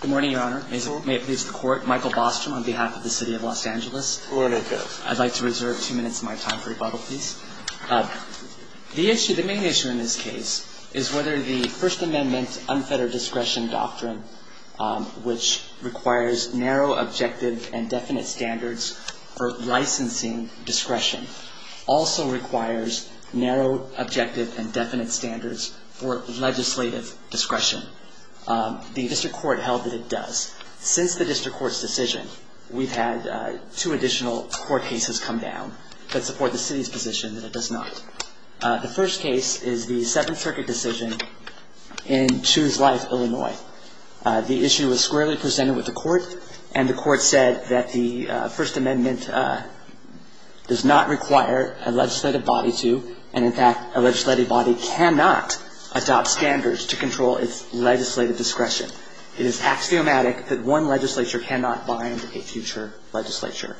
Good morning, Your Honor. May it please the Court. Michael Bostrom on behalf of the City of Los Angeles. I'd like to reserve two minutes of my time for rebuttal, please. The main issue in this case is whether the First Amendment's unfettered discretion doctrine, which requires narrow, objective, and definite standards for licensing discretion, also requires narrow, objective, and definite standards for legislative discretion. The District Court held that it does. Since the District Court's decision, we've had two additional court cases come down that support the City's position that it does not. The first case is the Seventh Circuit decision in Choose Life, Illinois. The issue was squarely presented with the Court, and the Court said that the First Amendment does not require a legislative body to, and in fact, a legislative body cannot adopt standards to control its legislative discretion. It is axiomatic that one legislature cannot bind a future legislature.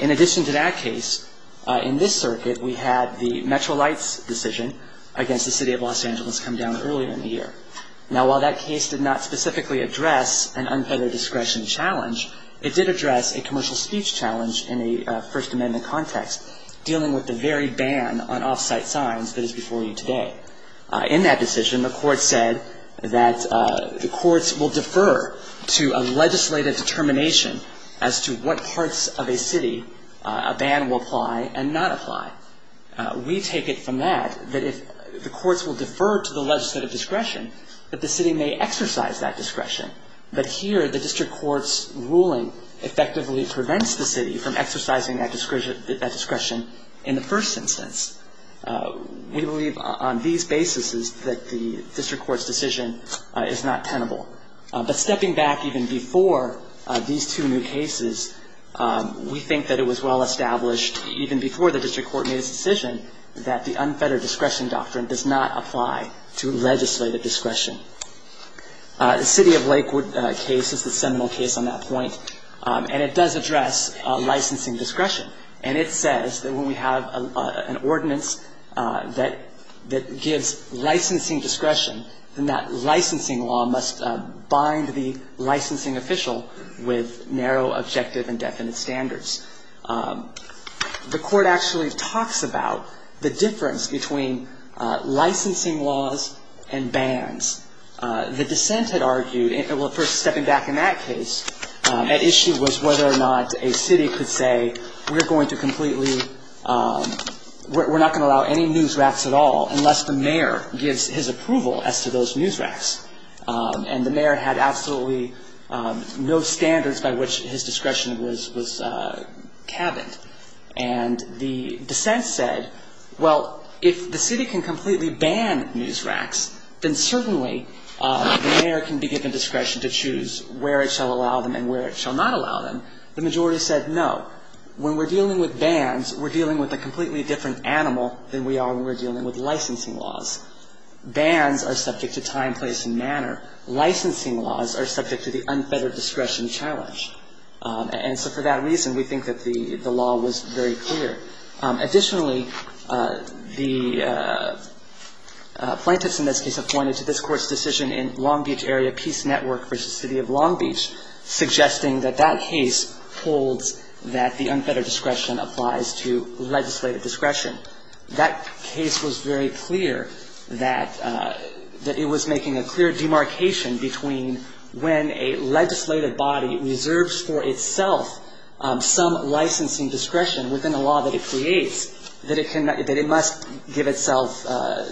In addition to that case, in this circuit, we had the Metro Lights decision against the City of Los Angeles come down earlier in the year. Now, while that case did not specifically address an unfettered discretion challenge, it did address a commercial speech challenge in the First Amendment context, dealing with the very ban on off-site signs that is before you today. In that decision, the Court said that the courts will defer to a legislative determination as to what parts of a city a ban will apply and not apply. We take it from that that if the courts will defer to the legislative discretion, that the City may exercise that discretion. But here, the district court's ruling effectively prevents the City from exercising that discretion in the first instance. We believe on these basis that the district court's decision is not tenable. But stepping back even before these two new cases, we think that it was well established even before the district court made its decision that the unfettered discretion doctrine does not apply to legislative discretion. The City of Lakewood case is the seminal case on that point. And it does address licensing discretion. And it says that when we have an ordinance that gives licensing discretion, then that licensing law must bind the licensing official with narrow objective and definite standards. The Court actually talks about the difference between licensing laws and bans. The dissent had argued, well, first stepping back in that case, at issue was whether or not a city could say we're going to completely, we're not going to allow any news racks at all unless the mayor gives his approval as to those news racks. And the mayor had absolutely no standards by which his discretion was cabined. And the dissent said, well, if the city can completely ban news racks, then certainly the mayor can be given discretion to choose where it shall allow them and where it shall not allow them. The majority said no. When we're dealing with bans, we're dealing with a completely different animal than we are when we're dealing with licensing laws. Bans are subject to time, place, and manner. Licensing laws are subject to the unfettered discretion challenge. And so for that reason, we think that the law was very clear. Additionally, the plaintiffs in this case have pointed to this Court's decision in Long Beach Area Peace Network v. City of Long Beach suggesting that that case holds that the unfettered discretion applies to legislative discretion. That case was very clear that it was making a clear demarcation between when a legislative body reserves for itself some licensing discretion within a law that it creates, that it must give itself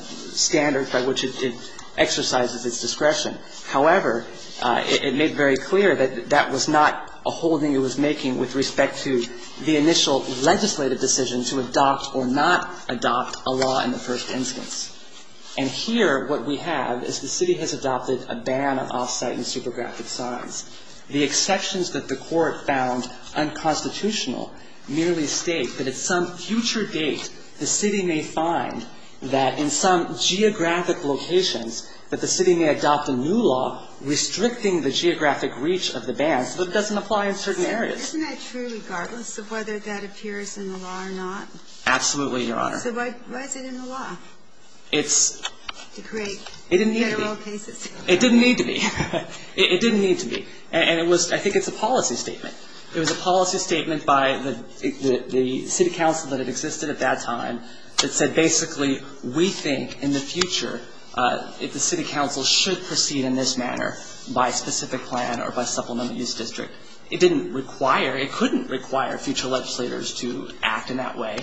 standards by which it exercises its discretion. However, it made very clear that that was not a holding it was making with respect to the initial legislative decision to adopt or not adopt a law in the first instance. And here, what we have is the City has adopted a ban of off-site and supergraphic signs. The exceptions that the Court found unconstitutional merely state that at some future date, the City may find that in some geographic locations that the City may adopt a new law restricting the geographic reach of the ban, so that it doesn't apply in certain areas. Isn't that true regardless of whether that appears in the law or not? Absolutely, Your Honor. So why is it in the law? It's to create federal cases. It didn't need to be. It didn't need to be. And it was – I think it's a policy statement. It was a policy statement by the City Council that had existed at that time that said, basically, we think in the future that the City Council should proceed in this manner by specific plan or by supplement use district. It didn't require – it couldn't require future legislators to act in that way.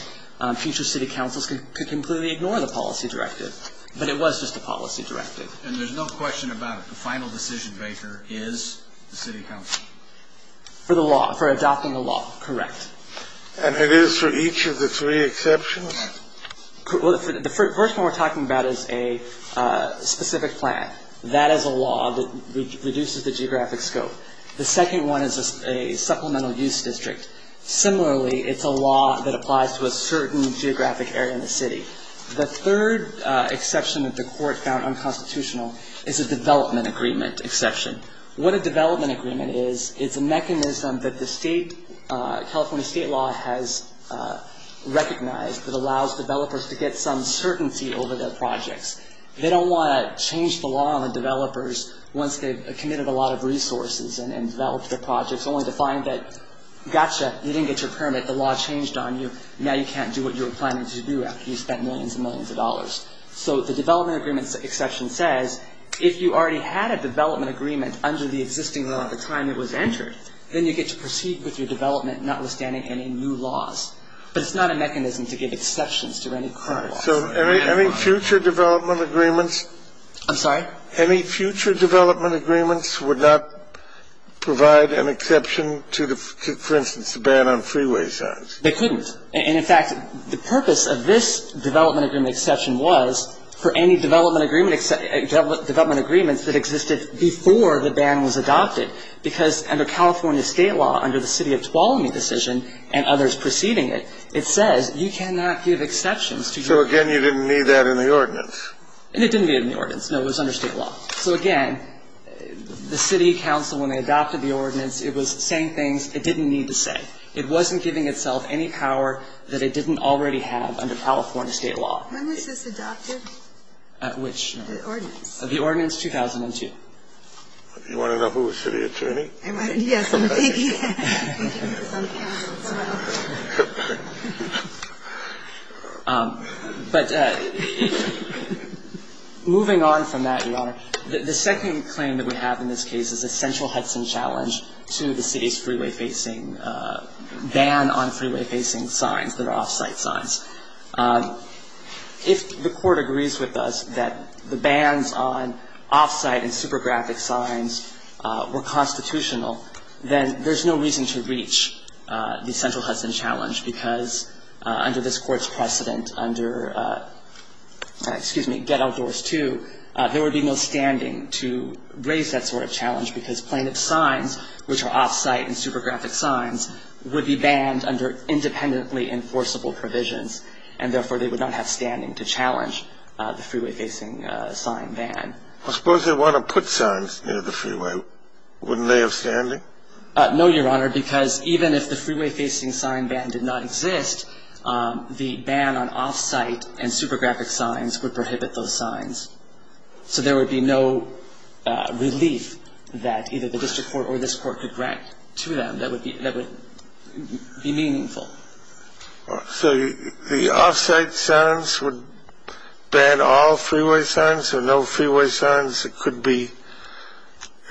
Future City Councils could completely ignore the policy directive. But it was just a policy directive. And there's no question about it. The final decision-maker is the City Council? For the law – for adopting the law, correct. And it is for each of the three exceptions? Well, the first one we're talking about is a specific plan. That is a law that reduces the geographic scope. The second one is a supplemental use district. Similarly, it's a law that applies to a certain geographic area in the city. The third exception that the court found unconstitutional is a development agreement exception. What a development agreement is, it's a mechanism that the state – California state law has recognized that allows developers to get some certainty over their projects. They don't want to change the law on the developers once they've committed a lot of resources and developed their projects, only to find that, gotcha, you didn't get your permit, the law changed on you, now you can't do what you were planning to do after you spent millions and millions of dollars. So the development agreement exception says, if you already had a development agreement under the existing law at the time it was entered, then you get to proceed with your development notwithstanding any new laws. But it's not a mechanism to give exceptions to any current laws. So any future development agreements – I'm sorry? Any future development agreements would not provide an exception to, for instance, the ban on freeway signs? They couldn't. And, in fact, the purpose of this development agreement exception was for any development agreement – development agreements that existed before the ban was adopted, because under California state law, under the city of Tuolumne decision and others preceding it, it says you cannot give exceptions to – So, again, you didn't need that in the ordinance. And it didn't need it in the ordinance. No, it was under state law. So, again, the city council, when they adopted the ordinance, it was saying things it didn't need to say. It wasn't giving itself any power that it didn't already have under California state law. When was this adopted? Which? The ordinance. The ordinance, 2002. Do you want to know who was city attorney? Yes, indeed. But moving on from that, Your Honor, the second claim that we have in this case is a central Hudson challenge to the city's freeway-facing – ban on freeway-facing signs that are off-site signs. If the Court agrees with us that the bans on off-site and super graphic signs were constitutional, then there's no reason to reach the central Hudson challenge because under this Court's precedent, under – excuse me – get outdoors 2, there would be no standing to raise that sort of challenge because plaintiff's signs, which are off-site and super graphic signs, would be banned under independently enforceable provisions, and therefore they would not have standing to challenge the freeway-facing sign ban. Well, suppose they want to put signs near the freeway. Wouldn't they have standing? No, Your Honor, because even if the freeway-facing sign ban did not exist, the ban on off-site and super graphic signs would prohibit those signs. So there would be no relief that either the District Court or this Court could grant to them that would be meaningful. So the off-site signs would ban all freeway signs? There are no freeway signs that could be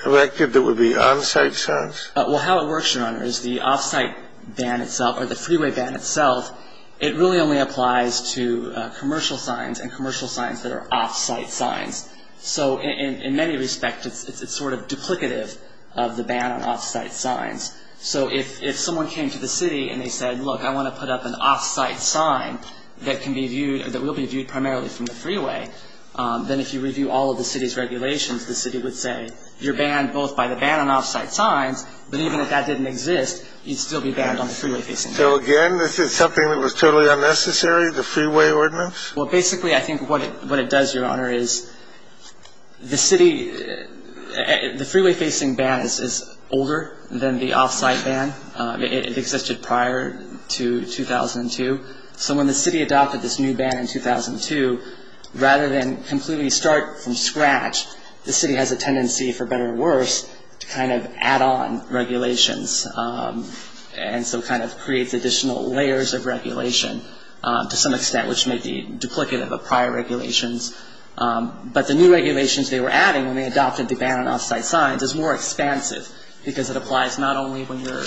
erected that would be on-site signs? Well, how it works, Your Honor, is the off-site ban itself, or the freeway ban itself, it really only applies to commercial signs and commercial signs that are off-site signs. So in many respects, it's sort of duplicative of the ban on off-site signs. So if someone came to the city and they said, look, I want to put up an off-site sign that can be viewed or that will be viewed primarily from the freeway, then if you review all of the city's regulations, the city would say you're banned both by the ban on off-site signs, but even if that didn't exist, you'd still be banned on the freeway-facing ban. So, again, this is something that was totally unnecessary, the freeway ordinance? Well, basically, I think what it does, Your Honor, is the city, the freeway-facing ban is older than the off-site ban. It existed prior to 2002. So when the city adopted this new ban in 2002, rather than completely start from scratch, the city has a tendency, for better or worse, to kind of add on regulations and so kind of creates additional layers of regulation to some extent, which may be duplicative of prior regulations. But the new regulations they were adding when they adopted the ban on off-site signs is more expansive because it applies not only when you're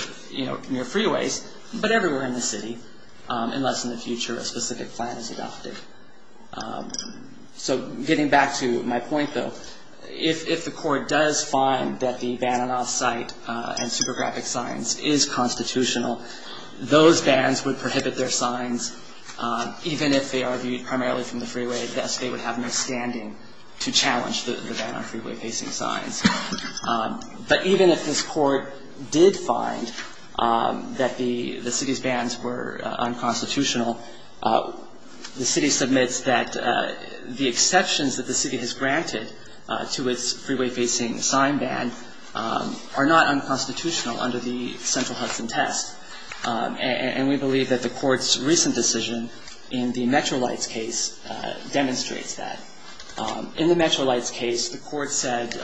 near freeways, but everywhere in the city, unless in the future a specific plan is adopted. So getting back to my point, though, if the court does find that the ban on off-site and supergraphic signs is constitutional, those bans would prohibit their signs, even if they are viewed primarily from the freeway. Thus, they would have no standing to challenge the ban on freeway-facing signs. But even if this court did find that the city's bans were unconstitutional, the city submits that the exceptions that the city has granted to its freeway-facing sign ban are not unconstitutional under the central Hudson test. And we believe that the court's recent decision in the Metrolights case demonstrates that. In the Metrolights case, the court said,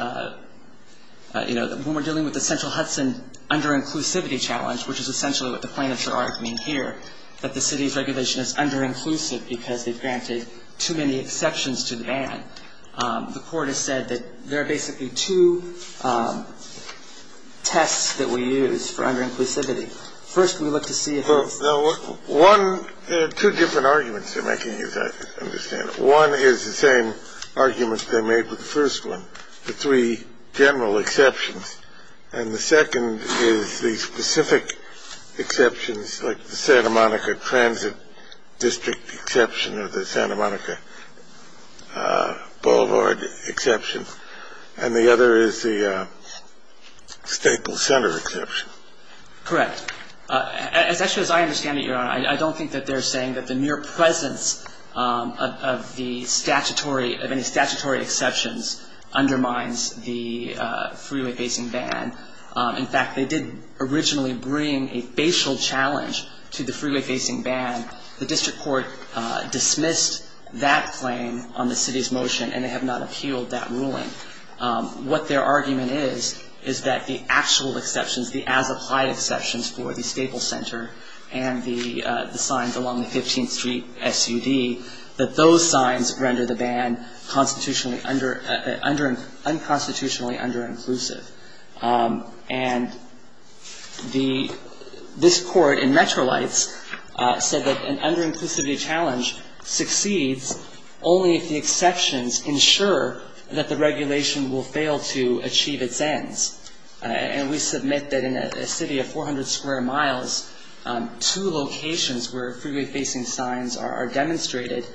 you know, when we're dealing with the central Hudson under-inclusivity challenge, which is essentially what the plaintiffs are arguing here, that the city's regulation is under-inclusive because they've granted too many exceptions to the ban, the court has said that there are basically two tests that we use for under-inclusivity. First, we look to see if it's unconstitutional. There are two different arguments they're making here, as I understand it. One is the same arguments they made with the first one, the three general exceptions. And the second is the specific exceptions, like the Santa Monica Transit District exception or the Santa Monica Boulevard exception. And the other is the Staples Center exception. Correct. Actually, as I understand it, Your Honor, I don't think that they're saying that the mere presence of the statutory, of any statutory exceptions undermines the freeway-facing ban. In fact, they did originally bring a facial challenge to the freeway-facing ban. The district court dismissed that claim on the city's motion, and they have not appealed that ruling. What their argument is, is that the actual exceptions, the as-applied exceptions for the Staples Center and the signs along the 15th Street SUD, that those signs render the ban constitutionally under- unconstitutionally under-inclusive. And the – this Court in Metrolites said that an under-inclusivity challenge succeeds only if the exceptions ensure that the regulation will fail to achieve its ends. And we submit that in a city of 400 square miles, two locations where freeway-facing signs are demonstrated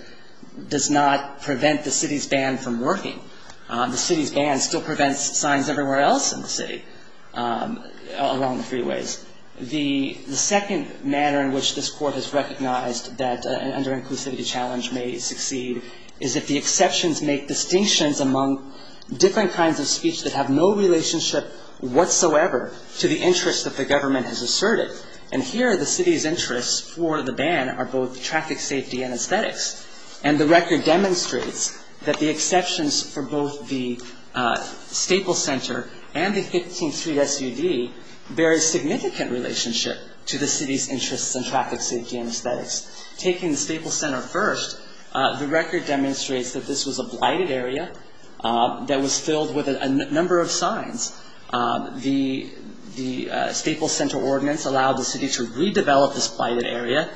does not prevent the city's ban from working. The city's ban still prevents signs everywhere else in the city along the freeways. The second manner in which this Court has recognized that an under-inclusivity challenge may succeed is if the exceptions make distinctions among different kinds of speech that have no relationship whatsoever to the interests that the government has asserted. And here, the city's interests for the ban are both traffic safety and aesthetics. And the record demonstrates that the exceptions for both the Staples Center and the 15th Street SUD bear a significant relationship to the city's interests in traffic safety and aesthetics. Taking the Staples Center first, the record demonstrates that this was a blighted area that was filled with a number of signs. The – the Staples Center ordinance allowed the city to redevelop this blighted area.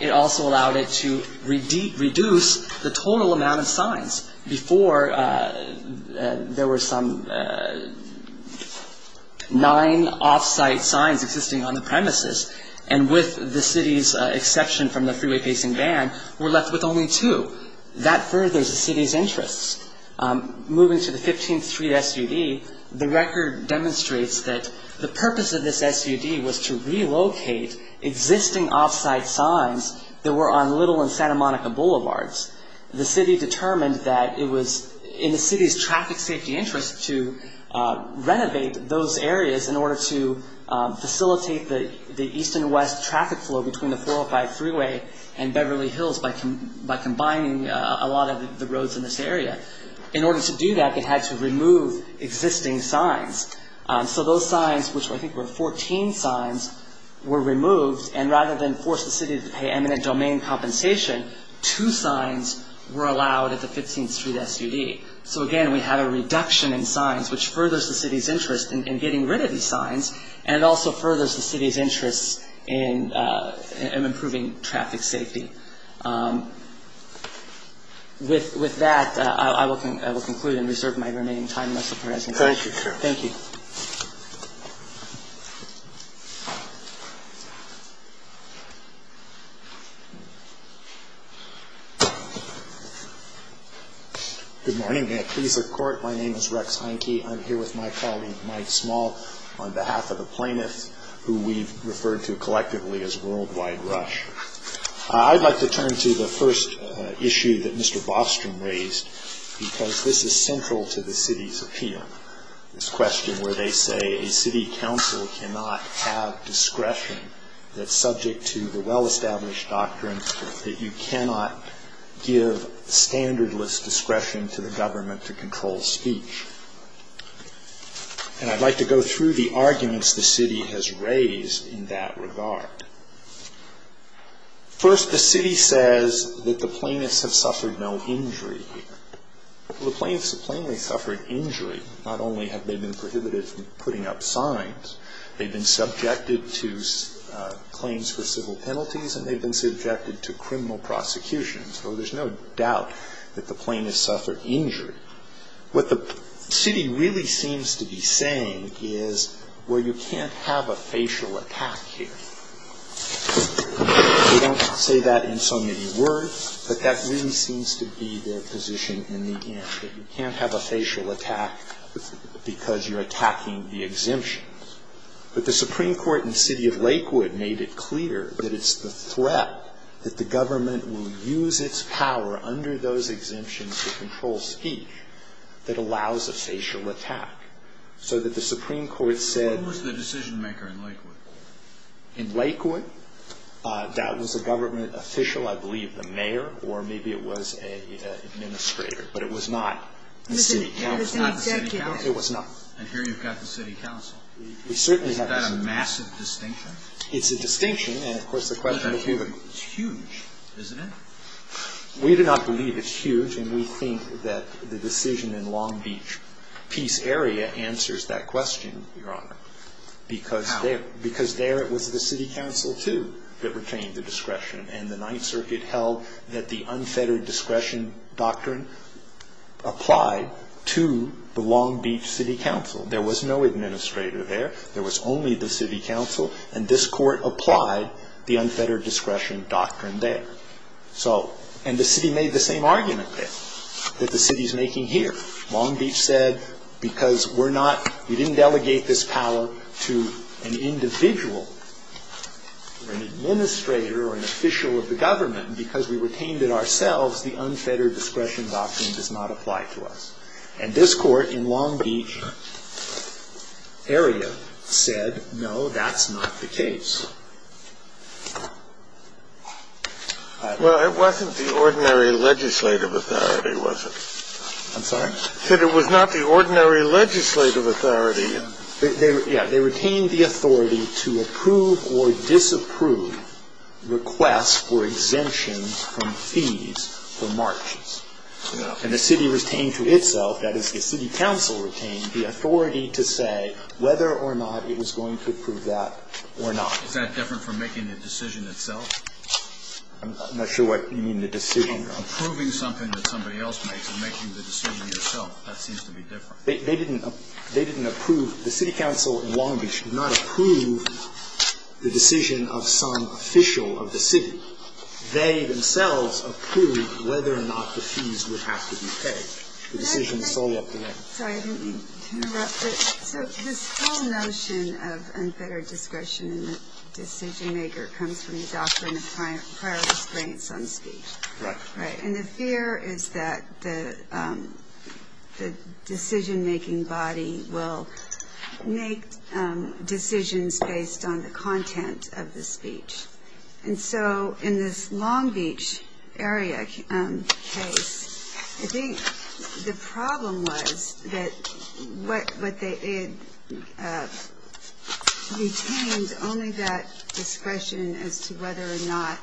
It also allowed it to reduce the total amount of signs. Before, there were some nine off-site signs existing on the premises. And with the city's exception from the freeway-facing ban, we're left with only two. That furthers the city's interests. Moving to the 15th Street SUD, the record demonstrates that the purpose of this SUD was to relocate existing off-site signs that were on Little and Santa Monica Boulevards. The city determined that it was in the city's traffic safety interest to renovate those areas in order to facilitate the east and west traffic flow between the 405 freeway and Beverly Hills by combining a lot of the roads in this area. In order to do that, it had to remove existing signs. So those signs, which I think were 14 signs, were removed. And rather than force the city to pay eminent domain compensation, two signs were allowed at the 15th Street SUD. So again, we have a reduction in signs, which furthers the city's interest in getting rid of these signs, and it also furthers the city's interest in improving traffic safety. With that, I will conclude and reserve my remaining time. Thank you, Mr. President. Thank you, Carol. Thank you. Good morning. May it please the Court, my name is Rex Heineke. I'm here with my colleague, Mike Small, on behalf of a plaintiff who we've referred to collectively as Worldwide Rush. I'd like to turn to the first issue that Mr. Bostrom raised, because this is central to the city's appeal, this question where they say a city council cannot have discretion that's subject to the well-established doctrine that you cannot give standardless discretion to the government to control speech. And I'd like to go through the arguments the city has raised in that regard. First, the city says that the plaintiffs have suffered no injury here. Well, the plaintiffs have plainly suffered injury. Not only have they been prohibited from putting up signs, they've been subjected to claims for civil penalties, and they've been subjected to criminal prosecution. So there's no doubt that the plaintiffs suffered injury. What the city really seems to be saying is, well, you can't have a facial attack here. They don't say that in so many words, but that really seems to be their position in the end, that you can't have a facial attack because you're attacking the exemptions. But the Supreme Court in the city of Lakewood made it clear that it's the threat that the government will use its power under those exemptions to control speech that allows a facial attack, so that the Supreme Court said the decision-maker in Lakewood. In Lakewood, that was a government official, I believe, the mayor, or maybe it was an administrator, but it was not the city council. It was not the city council. It was not. And here you've got the city council. We certainly have the city council. Is that a massive distinction? It's a distinction. It's huge, isn't it? We do not believe it's huge. And we think that the decision in Long Beach Peace Area answers that question, Your Honor. How? Because there it was the city council, too, that retained the discretion. And the Ninth Circuit held that the unfettered discretion doctrine applied to the Long Beach City Council. There was no administrator there. There was only the city council. And this court applied the unfettered discretion doctrine there. And the city made the same argument there that the city is making here. Long Beach said because we didn't delegate this power to an individual or an administrator or an official of the government, because we retained it ourselves, the unfettered discretion doctrine does not apply to us. And this court in Long Beach Area said, no, that's not the case. Well, it wasn't the ordinary legislative authority, was it? I'm sorry? It was not the ordinary legislative authority. Yeah. They retained the authority to approve or disapprove requests for exemptions from fees for marches. And the city retained to itself, that is, the city council retained the authority to say whether or not it was going to approve that or not. Is that different from making the decision itself? I'm not sure what you mean, the decision. Approving something that somebody else makes and making the decision yourself. That seems to be different. They didn't approve. The city council in Long Beach did not approve the decision of some official of the city. They themselves approved whether or not the fees would have to be paid. The decision is solely up to them. Sorry, I didn't mean to interrupt, but this whole notion of unfettered discretion and the decision-maker comes from the doctrine of prior restraints on speech. Right. And the fear is that the decision-making body will make decisions based on the content of the speech. And so in this Long Beach area case, I think the problem was that what they retained only that discretion as to whether or not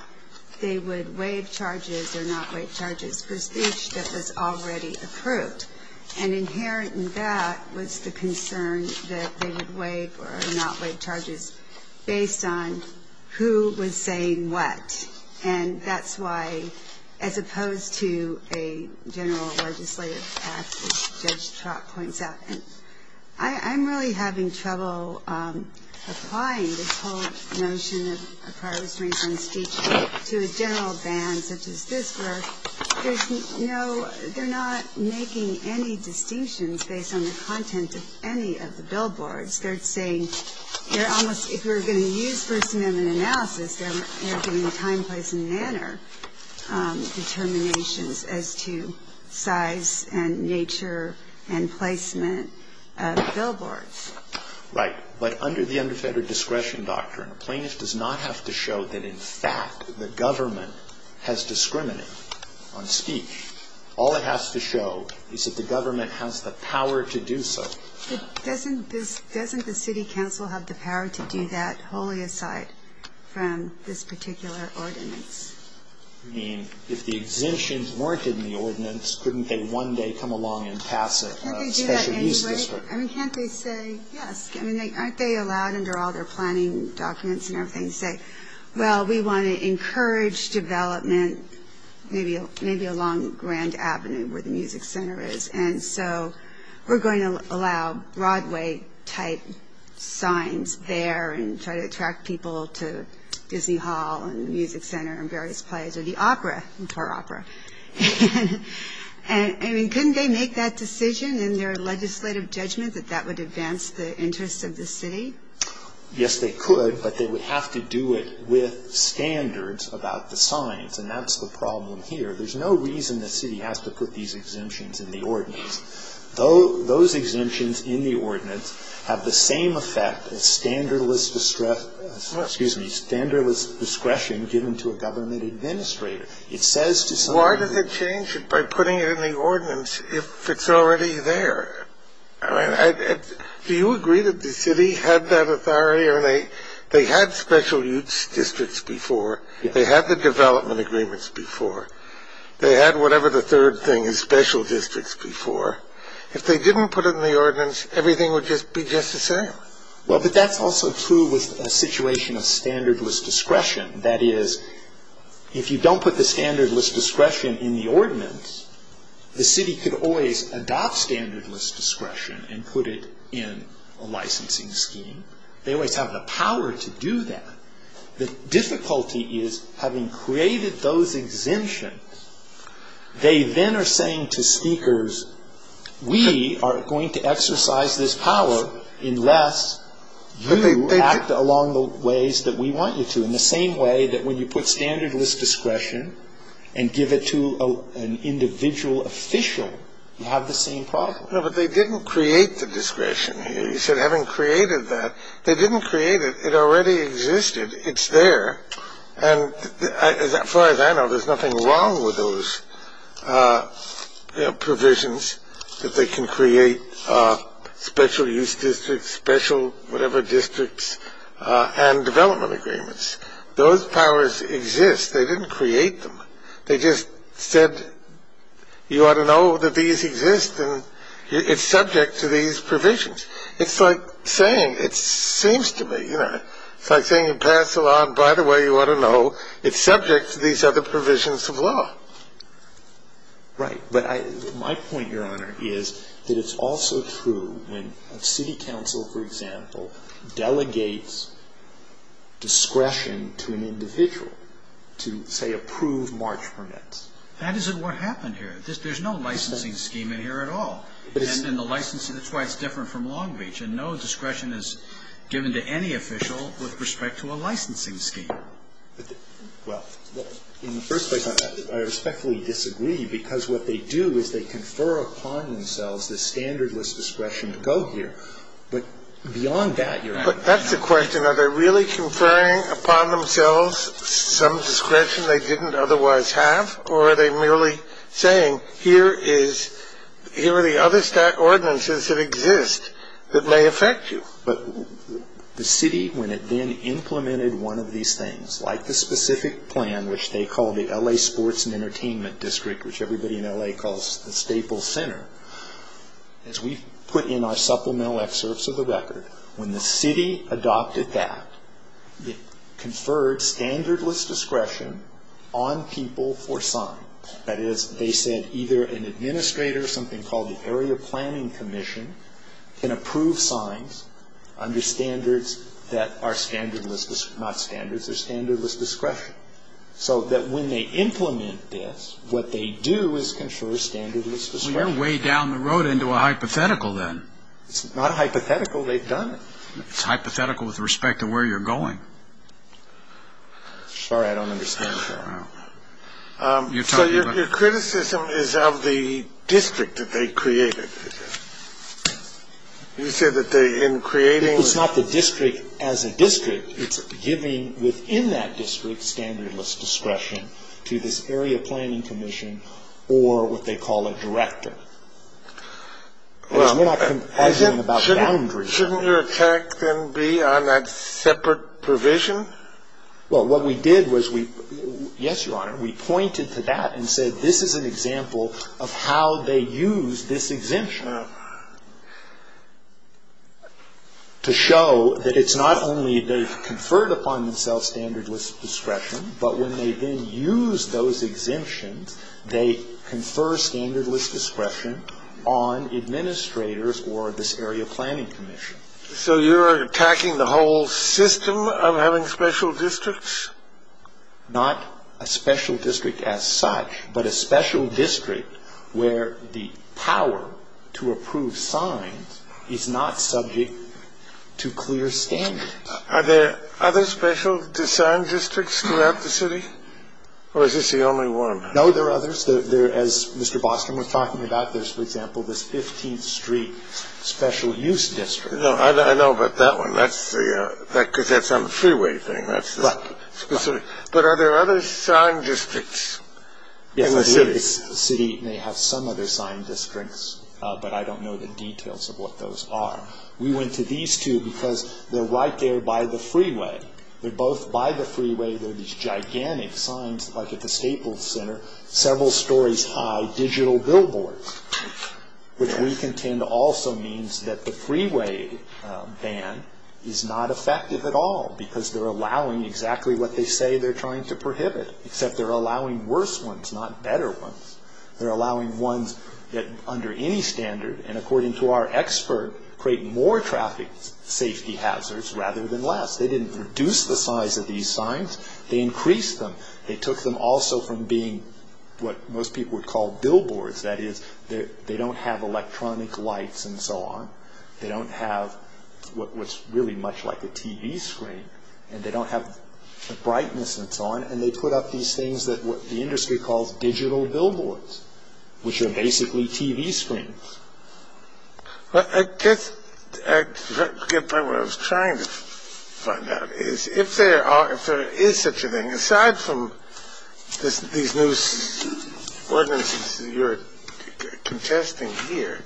they would waive charges or not waive charges for speech that was already approved. And inherent in that was the concern that they would waive or not waive charges based on who was saying what. And that's why, as opposed to a general legislative act, as Judge Trott points out. And I'm really having trouble applying this whole notion of prior restraints on speech to a general ban such as this where there's no ‑‑ they're not making any distinctions based on the content of any of the billboards. They're saying they're almost ‑‑ if you're going to use First Amendment analysis, they're giving time, place and manner determinations as to size and nature and placement of billboards. Right. But under the underfettered discretion doctrine, a plaintiff does not have to show that in fact the government has discriminated on speech. All it has to show is that the government has the power to do so. Doesn't the city council have the power to do that wholly aside from this particular ordinance? I mean, if the exemptions weren't in the ordinance, couldn't they one day come along and pass a special use district? Can't they do that anyway? I mean, can't they say yes? I mean, aren't they allowed under all their planning documents and everything to say, well, we want to encourage development maybe along Grand Avenue where the music center is. And so we're going to allow Broadway‑type signs there and try to attract people to Disney Hall and the music center and various places. Or the opera. Or opera. I mean, couldn't they make that decision in their legislative judgment that that would advance the interests of the city? Yes, they could. But they would have to do it with standards about the signs. And that's the problem here. There's no reason the city has to put these exemptions in the ordinance. Those exemptions in the ordinance have the same effect as standardless discretion given to a government administrator. Why does it change it by putting it in the ordinance if it's already there? Do you agree that the city had that authority? They had special use districts before. They had the development agreements before. They had whatever the third thing is, special districts before. If they didn't put it in the ordinance, everything would just be just the same. Well, but that's also true with a situation of standardless discretion. That is, if you don't put the standardless discretion in the ordinance, the city could always adopt standardless discretion and put it in a licensing scheme. They always have the power to do that. The difficulty is having created those exemptions, they then are saying to speakers, we are going to exercise this power unless you act along the ways that we want you to, in the same way that when you put standardless discretion and give it to an individual official, you have the same problem. No, but they didn't create the discretion here. You said having created that. They didn't create it. It already existed. It's there. And as far as I know, there's nothing wrong with those provisions, that they can create special use districts, special whatever districts, and development agreements. Those powers exist. They didn't create them. They just said you ought to know that these exist and it's subject to these provisions. It's like saying, it seems to me, you know, it's like saying you pass a law and, by the way, you ought to know, it's subject to these other provisions of law. Right, but my point, Your Honor, is that it's also true when a city council, for example, delegates discretion to an individual to, say, approve march permits. That isn't what happened here. There's no licensing scheme in here at all. And the licensing, that's why it's different from Long Beach. And no discretion is given to any official with respect to a licensing scheme. Well, in the first place, I respectfully disagree because what they do is they confer upon themselves this standardless discretion to go here. But beyond that, Your Honor. But that's the question. Are they really conferring upon themselves some discretion they didn't otherwise have or are they merely saying here are the other stat ordinances that exist that may affect you? The city, when it then implemented one of these things, like the specific plan, which they called the L.A. Sports and Entertainment District, which everybody in L.A. calls the Staple Center, as we put in our supplemental excerpts of the record, when the city adopted that, conferred standardless discretion on people for sign. That is, they said either an administrator or something called the Area Planning Commission can approve signs under standards that are standardless, not standards, they're standardless discretion. So that when they implement this, what they do is confer standardless discretion. Well, you're way down the road into a hypothetical then. It's not a hypothetical. They've done it. It's hypothetical with respect to where you're going. Sorry, I don't understand, Your Honor. So your criticism is of the district that they created. You said that they, in creating the district. It's not the district as a district. It's giving within that district standardless discretion to this Area Planning Commission or what they call a director. Well, shouldn't your attack then be on that separate provision? Well, what we did was we, yes, Your Honor, we pointed to that and said, this is an example of how they use this exemption. To show that it's not only they've conferred upon themselves standardless discretion, but when they then use those exemptions, they confer standardless discretion on administrators or this Area Planning Commission. So you're attacking the whole system of having special districts? Not a special district as such, but a special district where the power to approve signs is not subject to clear standards. Are there other special sign districts throughout the city, or is this the only one? No, there are others. As Mr. Bostrom was talking about, there's, for example, this 15th Street Special Use District. No, I know about that one. That's because that's on the freeway thing. But are there other sign districts in the city? Yes, the city may have some other sign districts, but I don't know the details of what those are. We went to these two because they're right there by the freeway. They're both by the freeway. They're these gigantic signs like at the Staples Center, several stories high, digital billboards, which we contend also means that the freeway ban is not effective at all because they're allowing exactly what they say they're trying to prohibit, except they're allowing worse ones, not better ones. They're allowing ones that under any standard, and according to our expert, create more traffic safety hazards rather than less. They didn't reduce the size of these signs. They increased them. They took them also from being what most people would call billboards. That is, they don't have electronic lights and so on. They don't have what's really much like a TV screen, and they don't have the brightness and so on, and they put up these things that the industry calls digital billboards, which are basically TV screens. Well, I guess what I was trying to find out is if there is such a thing, aside from these new ordinances that you're contesting here,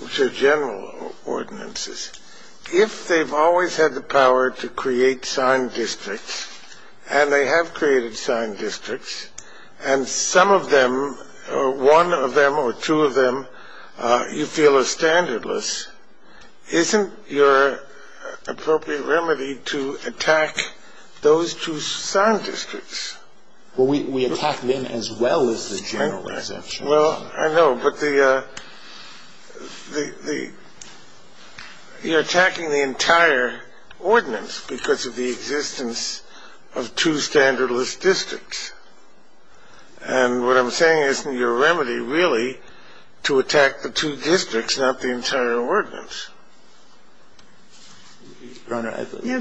which are general ordinances, if they've always had the power to create signed districts, and they have created signed districts, and some of them, one of them or two of them, you feel are standardless, isn't your appropriate remedy to attack those two signed districts? Well, we attack them as well as the general exemptions. Well, I know, but you're attacking the entire ordinance because of the existence of two standardless districts, and what I'm saying isn't your remedy really to attack the two districts, not the entire ordinance. No,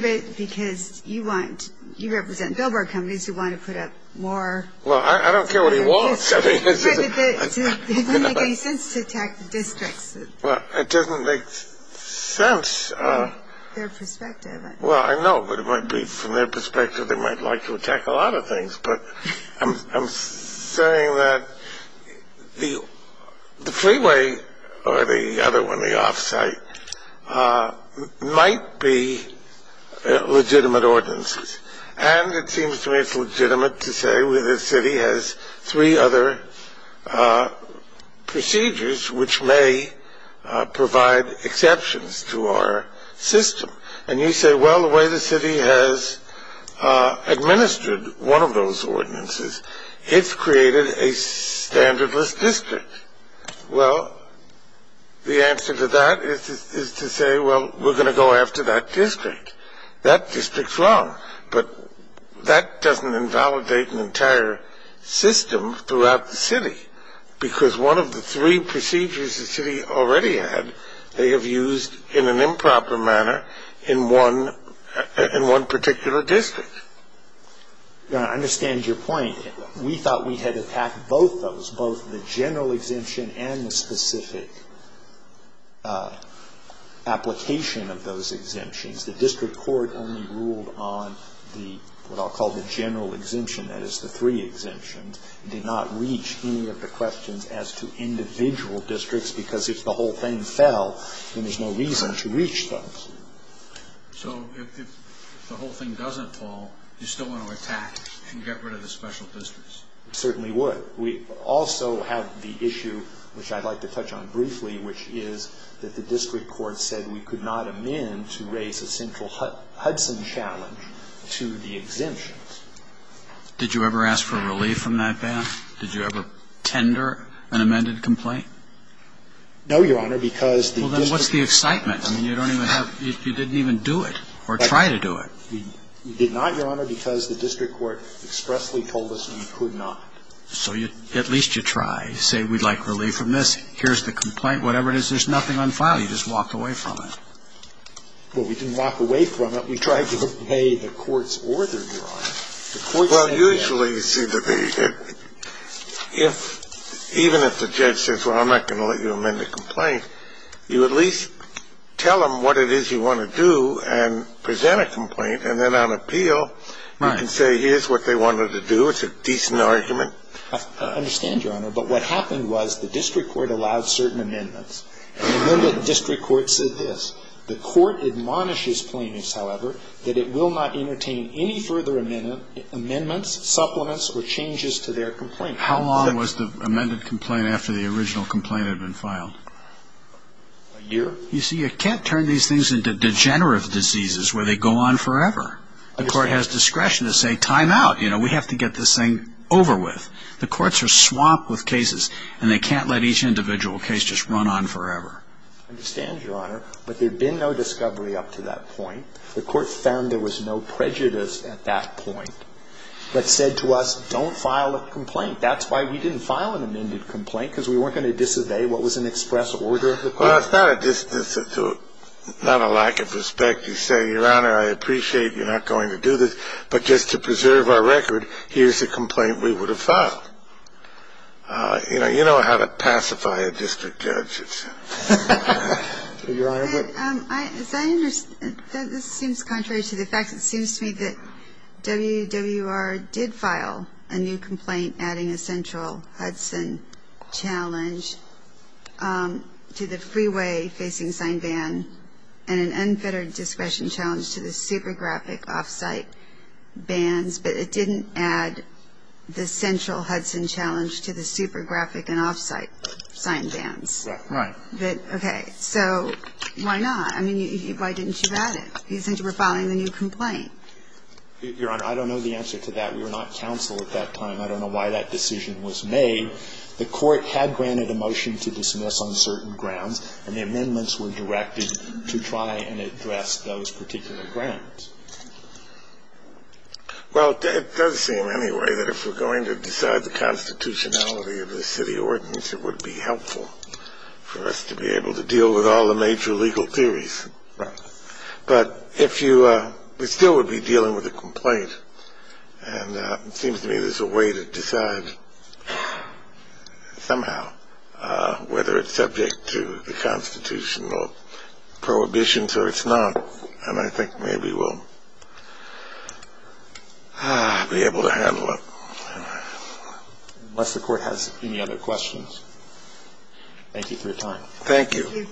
but because you represent billboard companies who want to put up more. Well, I don't care what he wants. But it doesn't make any sense to attack the districts. Well, it doesn't make sense. From their perspective. Well, I know, but it might be from their perspective they might like to attack a lot of things, but I'm saying that the freeway or the other one, the offsite, might be legitimate ordinances, and it seems to me it's legitimate to say the city has three other procedures which may provide exceptions to our system. And you say, well, the way the city has administered one of those ordinances, it's created a standardless district. Well, the answer to that is to say, well, we're going to go after that district. That district's wrong, but that doesn't invalidate an entire system throughout the city because one of the three procedures the city already had, they have used in an improper manner in one particular district. I understand your point. We thought we had attacked both those, both the general exemption and the specific application of those exemptions. The district court only ruled on what I'll call the general exemption, that is the three exemptions. It did not reach any of the questions as to individual districts because if the whole thing fell, then there's no reason to reach those. So if the whole thing doesn't fall, you still want to attack and get rid of the special districts? We certainly would. We also have the issue, which I'd like to touch on briefly, which is that the district court said we could not amend to raise a central Hudson challenge to the exemptions. Did you ever ask for relief from that, Ben? Did you ever tender an amended complaint? No, Your Honor, because the district court... Well, then what's the excitement? I mean, you don't even have, you didn't even do it or try to do it. We did not, Your Honor, because the district court expressly told us we could not. So at least you try. Say, we'd like relief from this. Here's the complaint, whatever it is. There's nothing on file. You just walked away from it. Well, we didn't walk away from it. We tried to obey the court's order, Your Honor. Well, usually, you see, even if the judge says, well, I'm not going to let you amend the complaint, you at least tell them what it is you want to do and present a complaint, and then on appeal you can say, here's what they wanted to do. So it's a decent argument. I understand, Your Honor, but what happened was the district court allowed certain amendments. The amended district court said this. The court admonishes plaintiffs, however, that it will not entertain any further amendments, supplements, or changes to their complaint. How long was the amended complaint after the original complaint had been filed? A year. You see, you can't turn these things into degenerative diseases where they go on forever. The court has discretion to say, time out. You know, we have to get this thing over with. The courts are swamped with cases, and they can't let each individual case just run on forever. I understand, Your Honor, but there had been no discovery up to that point. The court found there was no prejudice at that point, but said to us, don't file a complaint. That's why we didn't file an amended complaint, because we weren't going to disobey what was in express order of the court. Well, it's not a disinstitute, not a lack of respect. You say, Your Honor, I appreciate you're not going to do this, but just to preserve our record, here's a complaint we would have filed. You know how to pacify a district judge. Your Honor. As I understand, this seems contrary to the facts. It seems to me that WWR did file a new complaint adding a central Hudson challenge to the freeway facing Sign ban and an unfettered discretion challenge to the super graphic off-site bans, but it didn't add the central Hudson challenge to the super graphic and off-site sign bans. Right. Okay. So why not? I mean, why didn't you add it? You said you were filing a new complaint. Your Honor, I don't know the answer to that. We were not counsel at that time. I don't know why that decision was made. The court had granted a motion to dismiss on certain grounds, and the amendments were directed to try and address those particular grounds. Well, it does seem anyway that if we're going to decide the constitutionality of the city ordinance, it would be helpful for us to be able to deal with all the major legal theories. Right. But if you we still would be dealing with a complaint, and it seems to me there's a way to decide somehow whether it's subject to the constitutional prohibitions or it's not, and I think maybe we'll be able to handle it. Unless the court has any other questions. Thank you for your time. Thank you.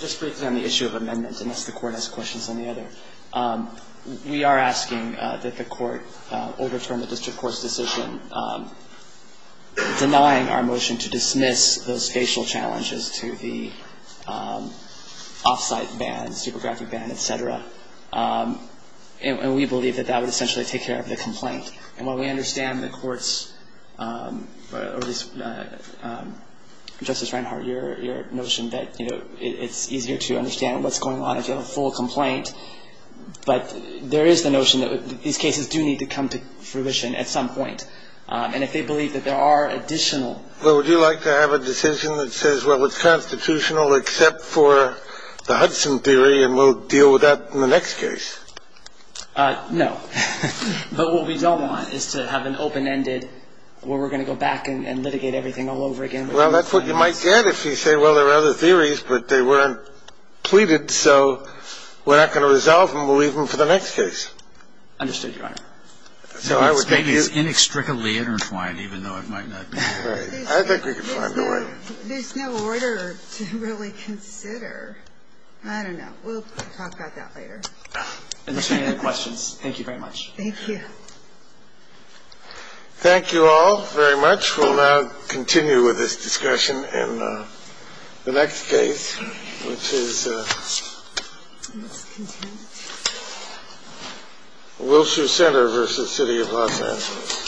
Just briefly on the issue of amendments, unless the court has questions on the other. We are asking that the court overturn the district court's decision denying our motion to dismiss those facial challenges to the off-site ban, super graphic ban, et cetera. And we believe that that would essentially take care of the complaint. And while we understand the court's, Justice Reinhart, your notion that it's easier to understand what's going on if you have a full complaint, but there is the notion that these cases do need to come to fruition at some point. And if they believe that there are additional. Well, would you like to have a decision that says, well, it's constitutional except for the Hudson theory, and we'll deal with that in the next case? No. But what we don't want is to have an open-ended where we're going to go back and litigate everything all over again. Well, that's what you might get if you say, well, there are other theories, but they weren't pleaded, so we're not going to resolve them. We'll leave them for the next case. Understood, Your Honor. So I would think it's inextricably intertwined, even though it might not be. Right. I think we can find a way. There's no order to really consider. I don't know. We'll talk about that later. Any other questions? Thank you very much. Thank you. Thank you all very much. We'll now continue with this discussion in the next case, which is Wilshire Center v. City of Los Angeles.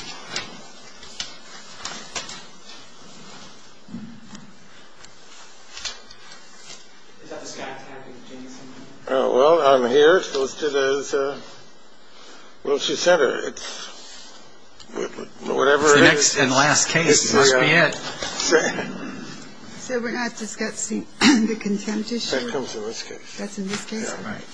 Well, I'm here. So let's do this. Wilshire Center. It's whatever it is. It's the next and last case. It must be it. So we're not discussing the contempt issue? That comes in this case. That's in this case? Right.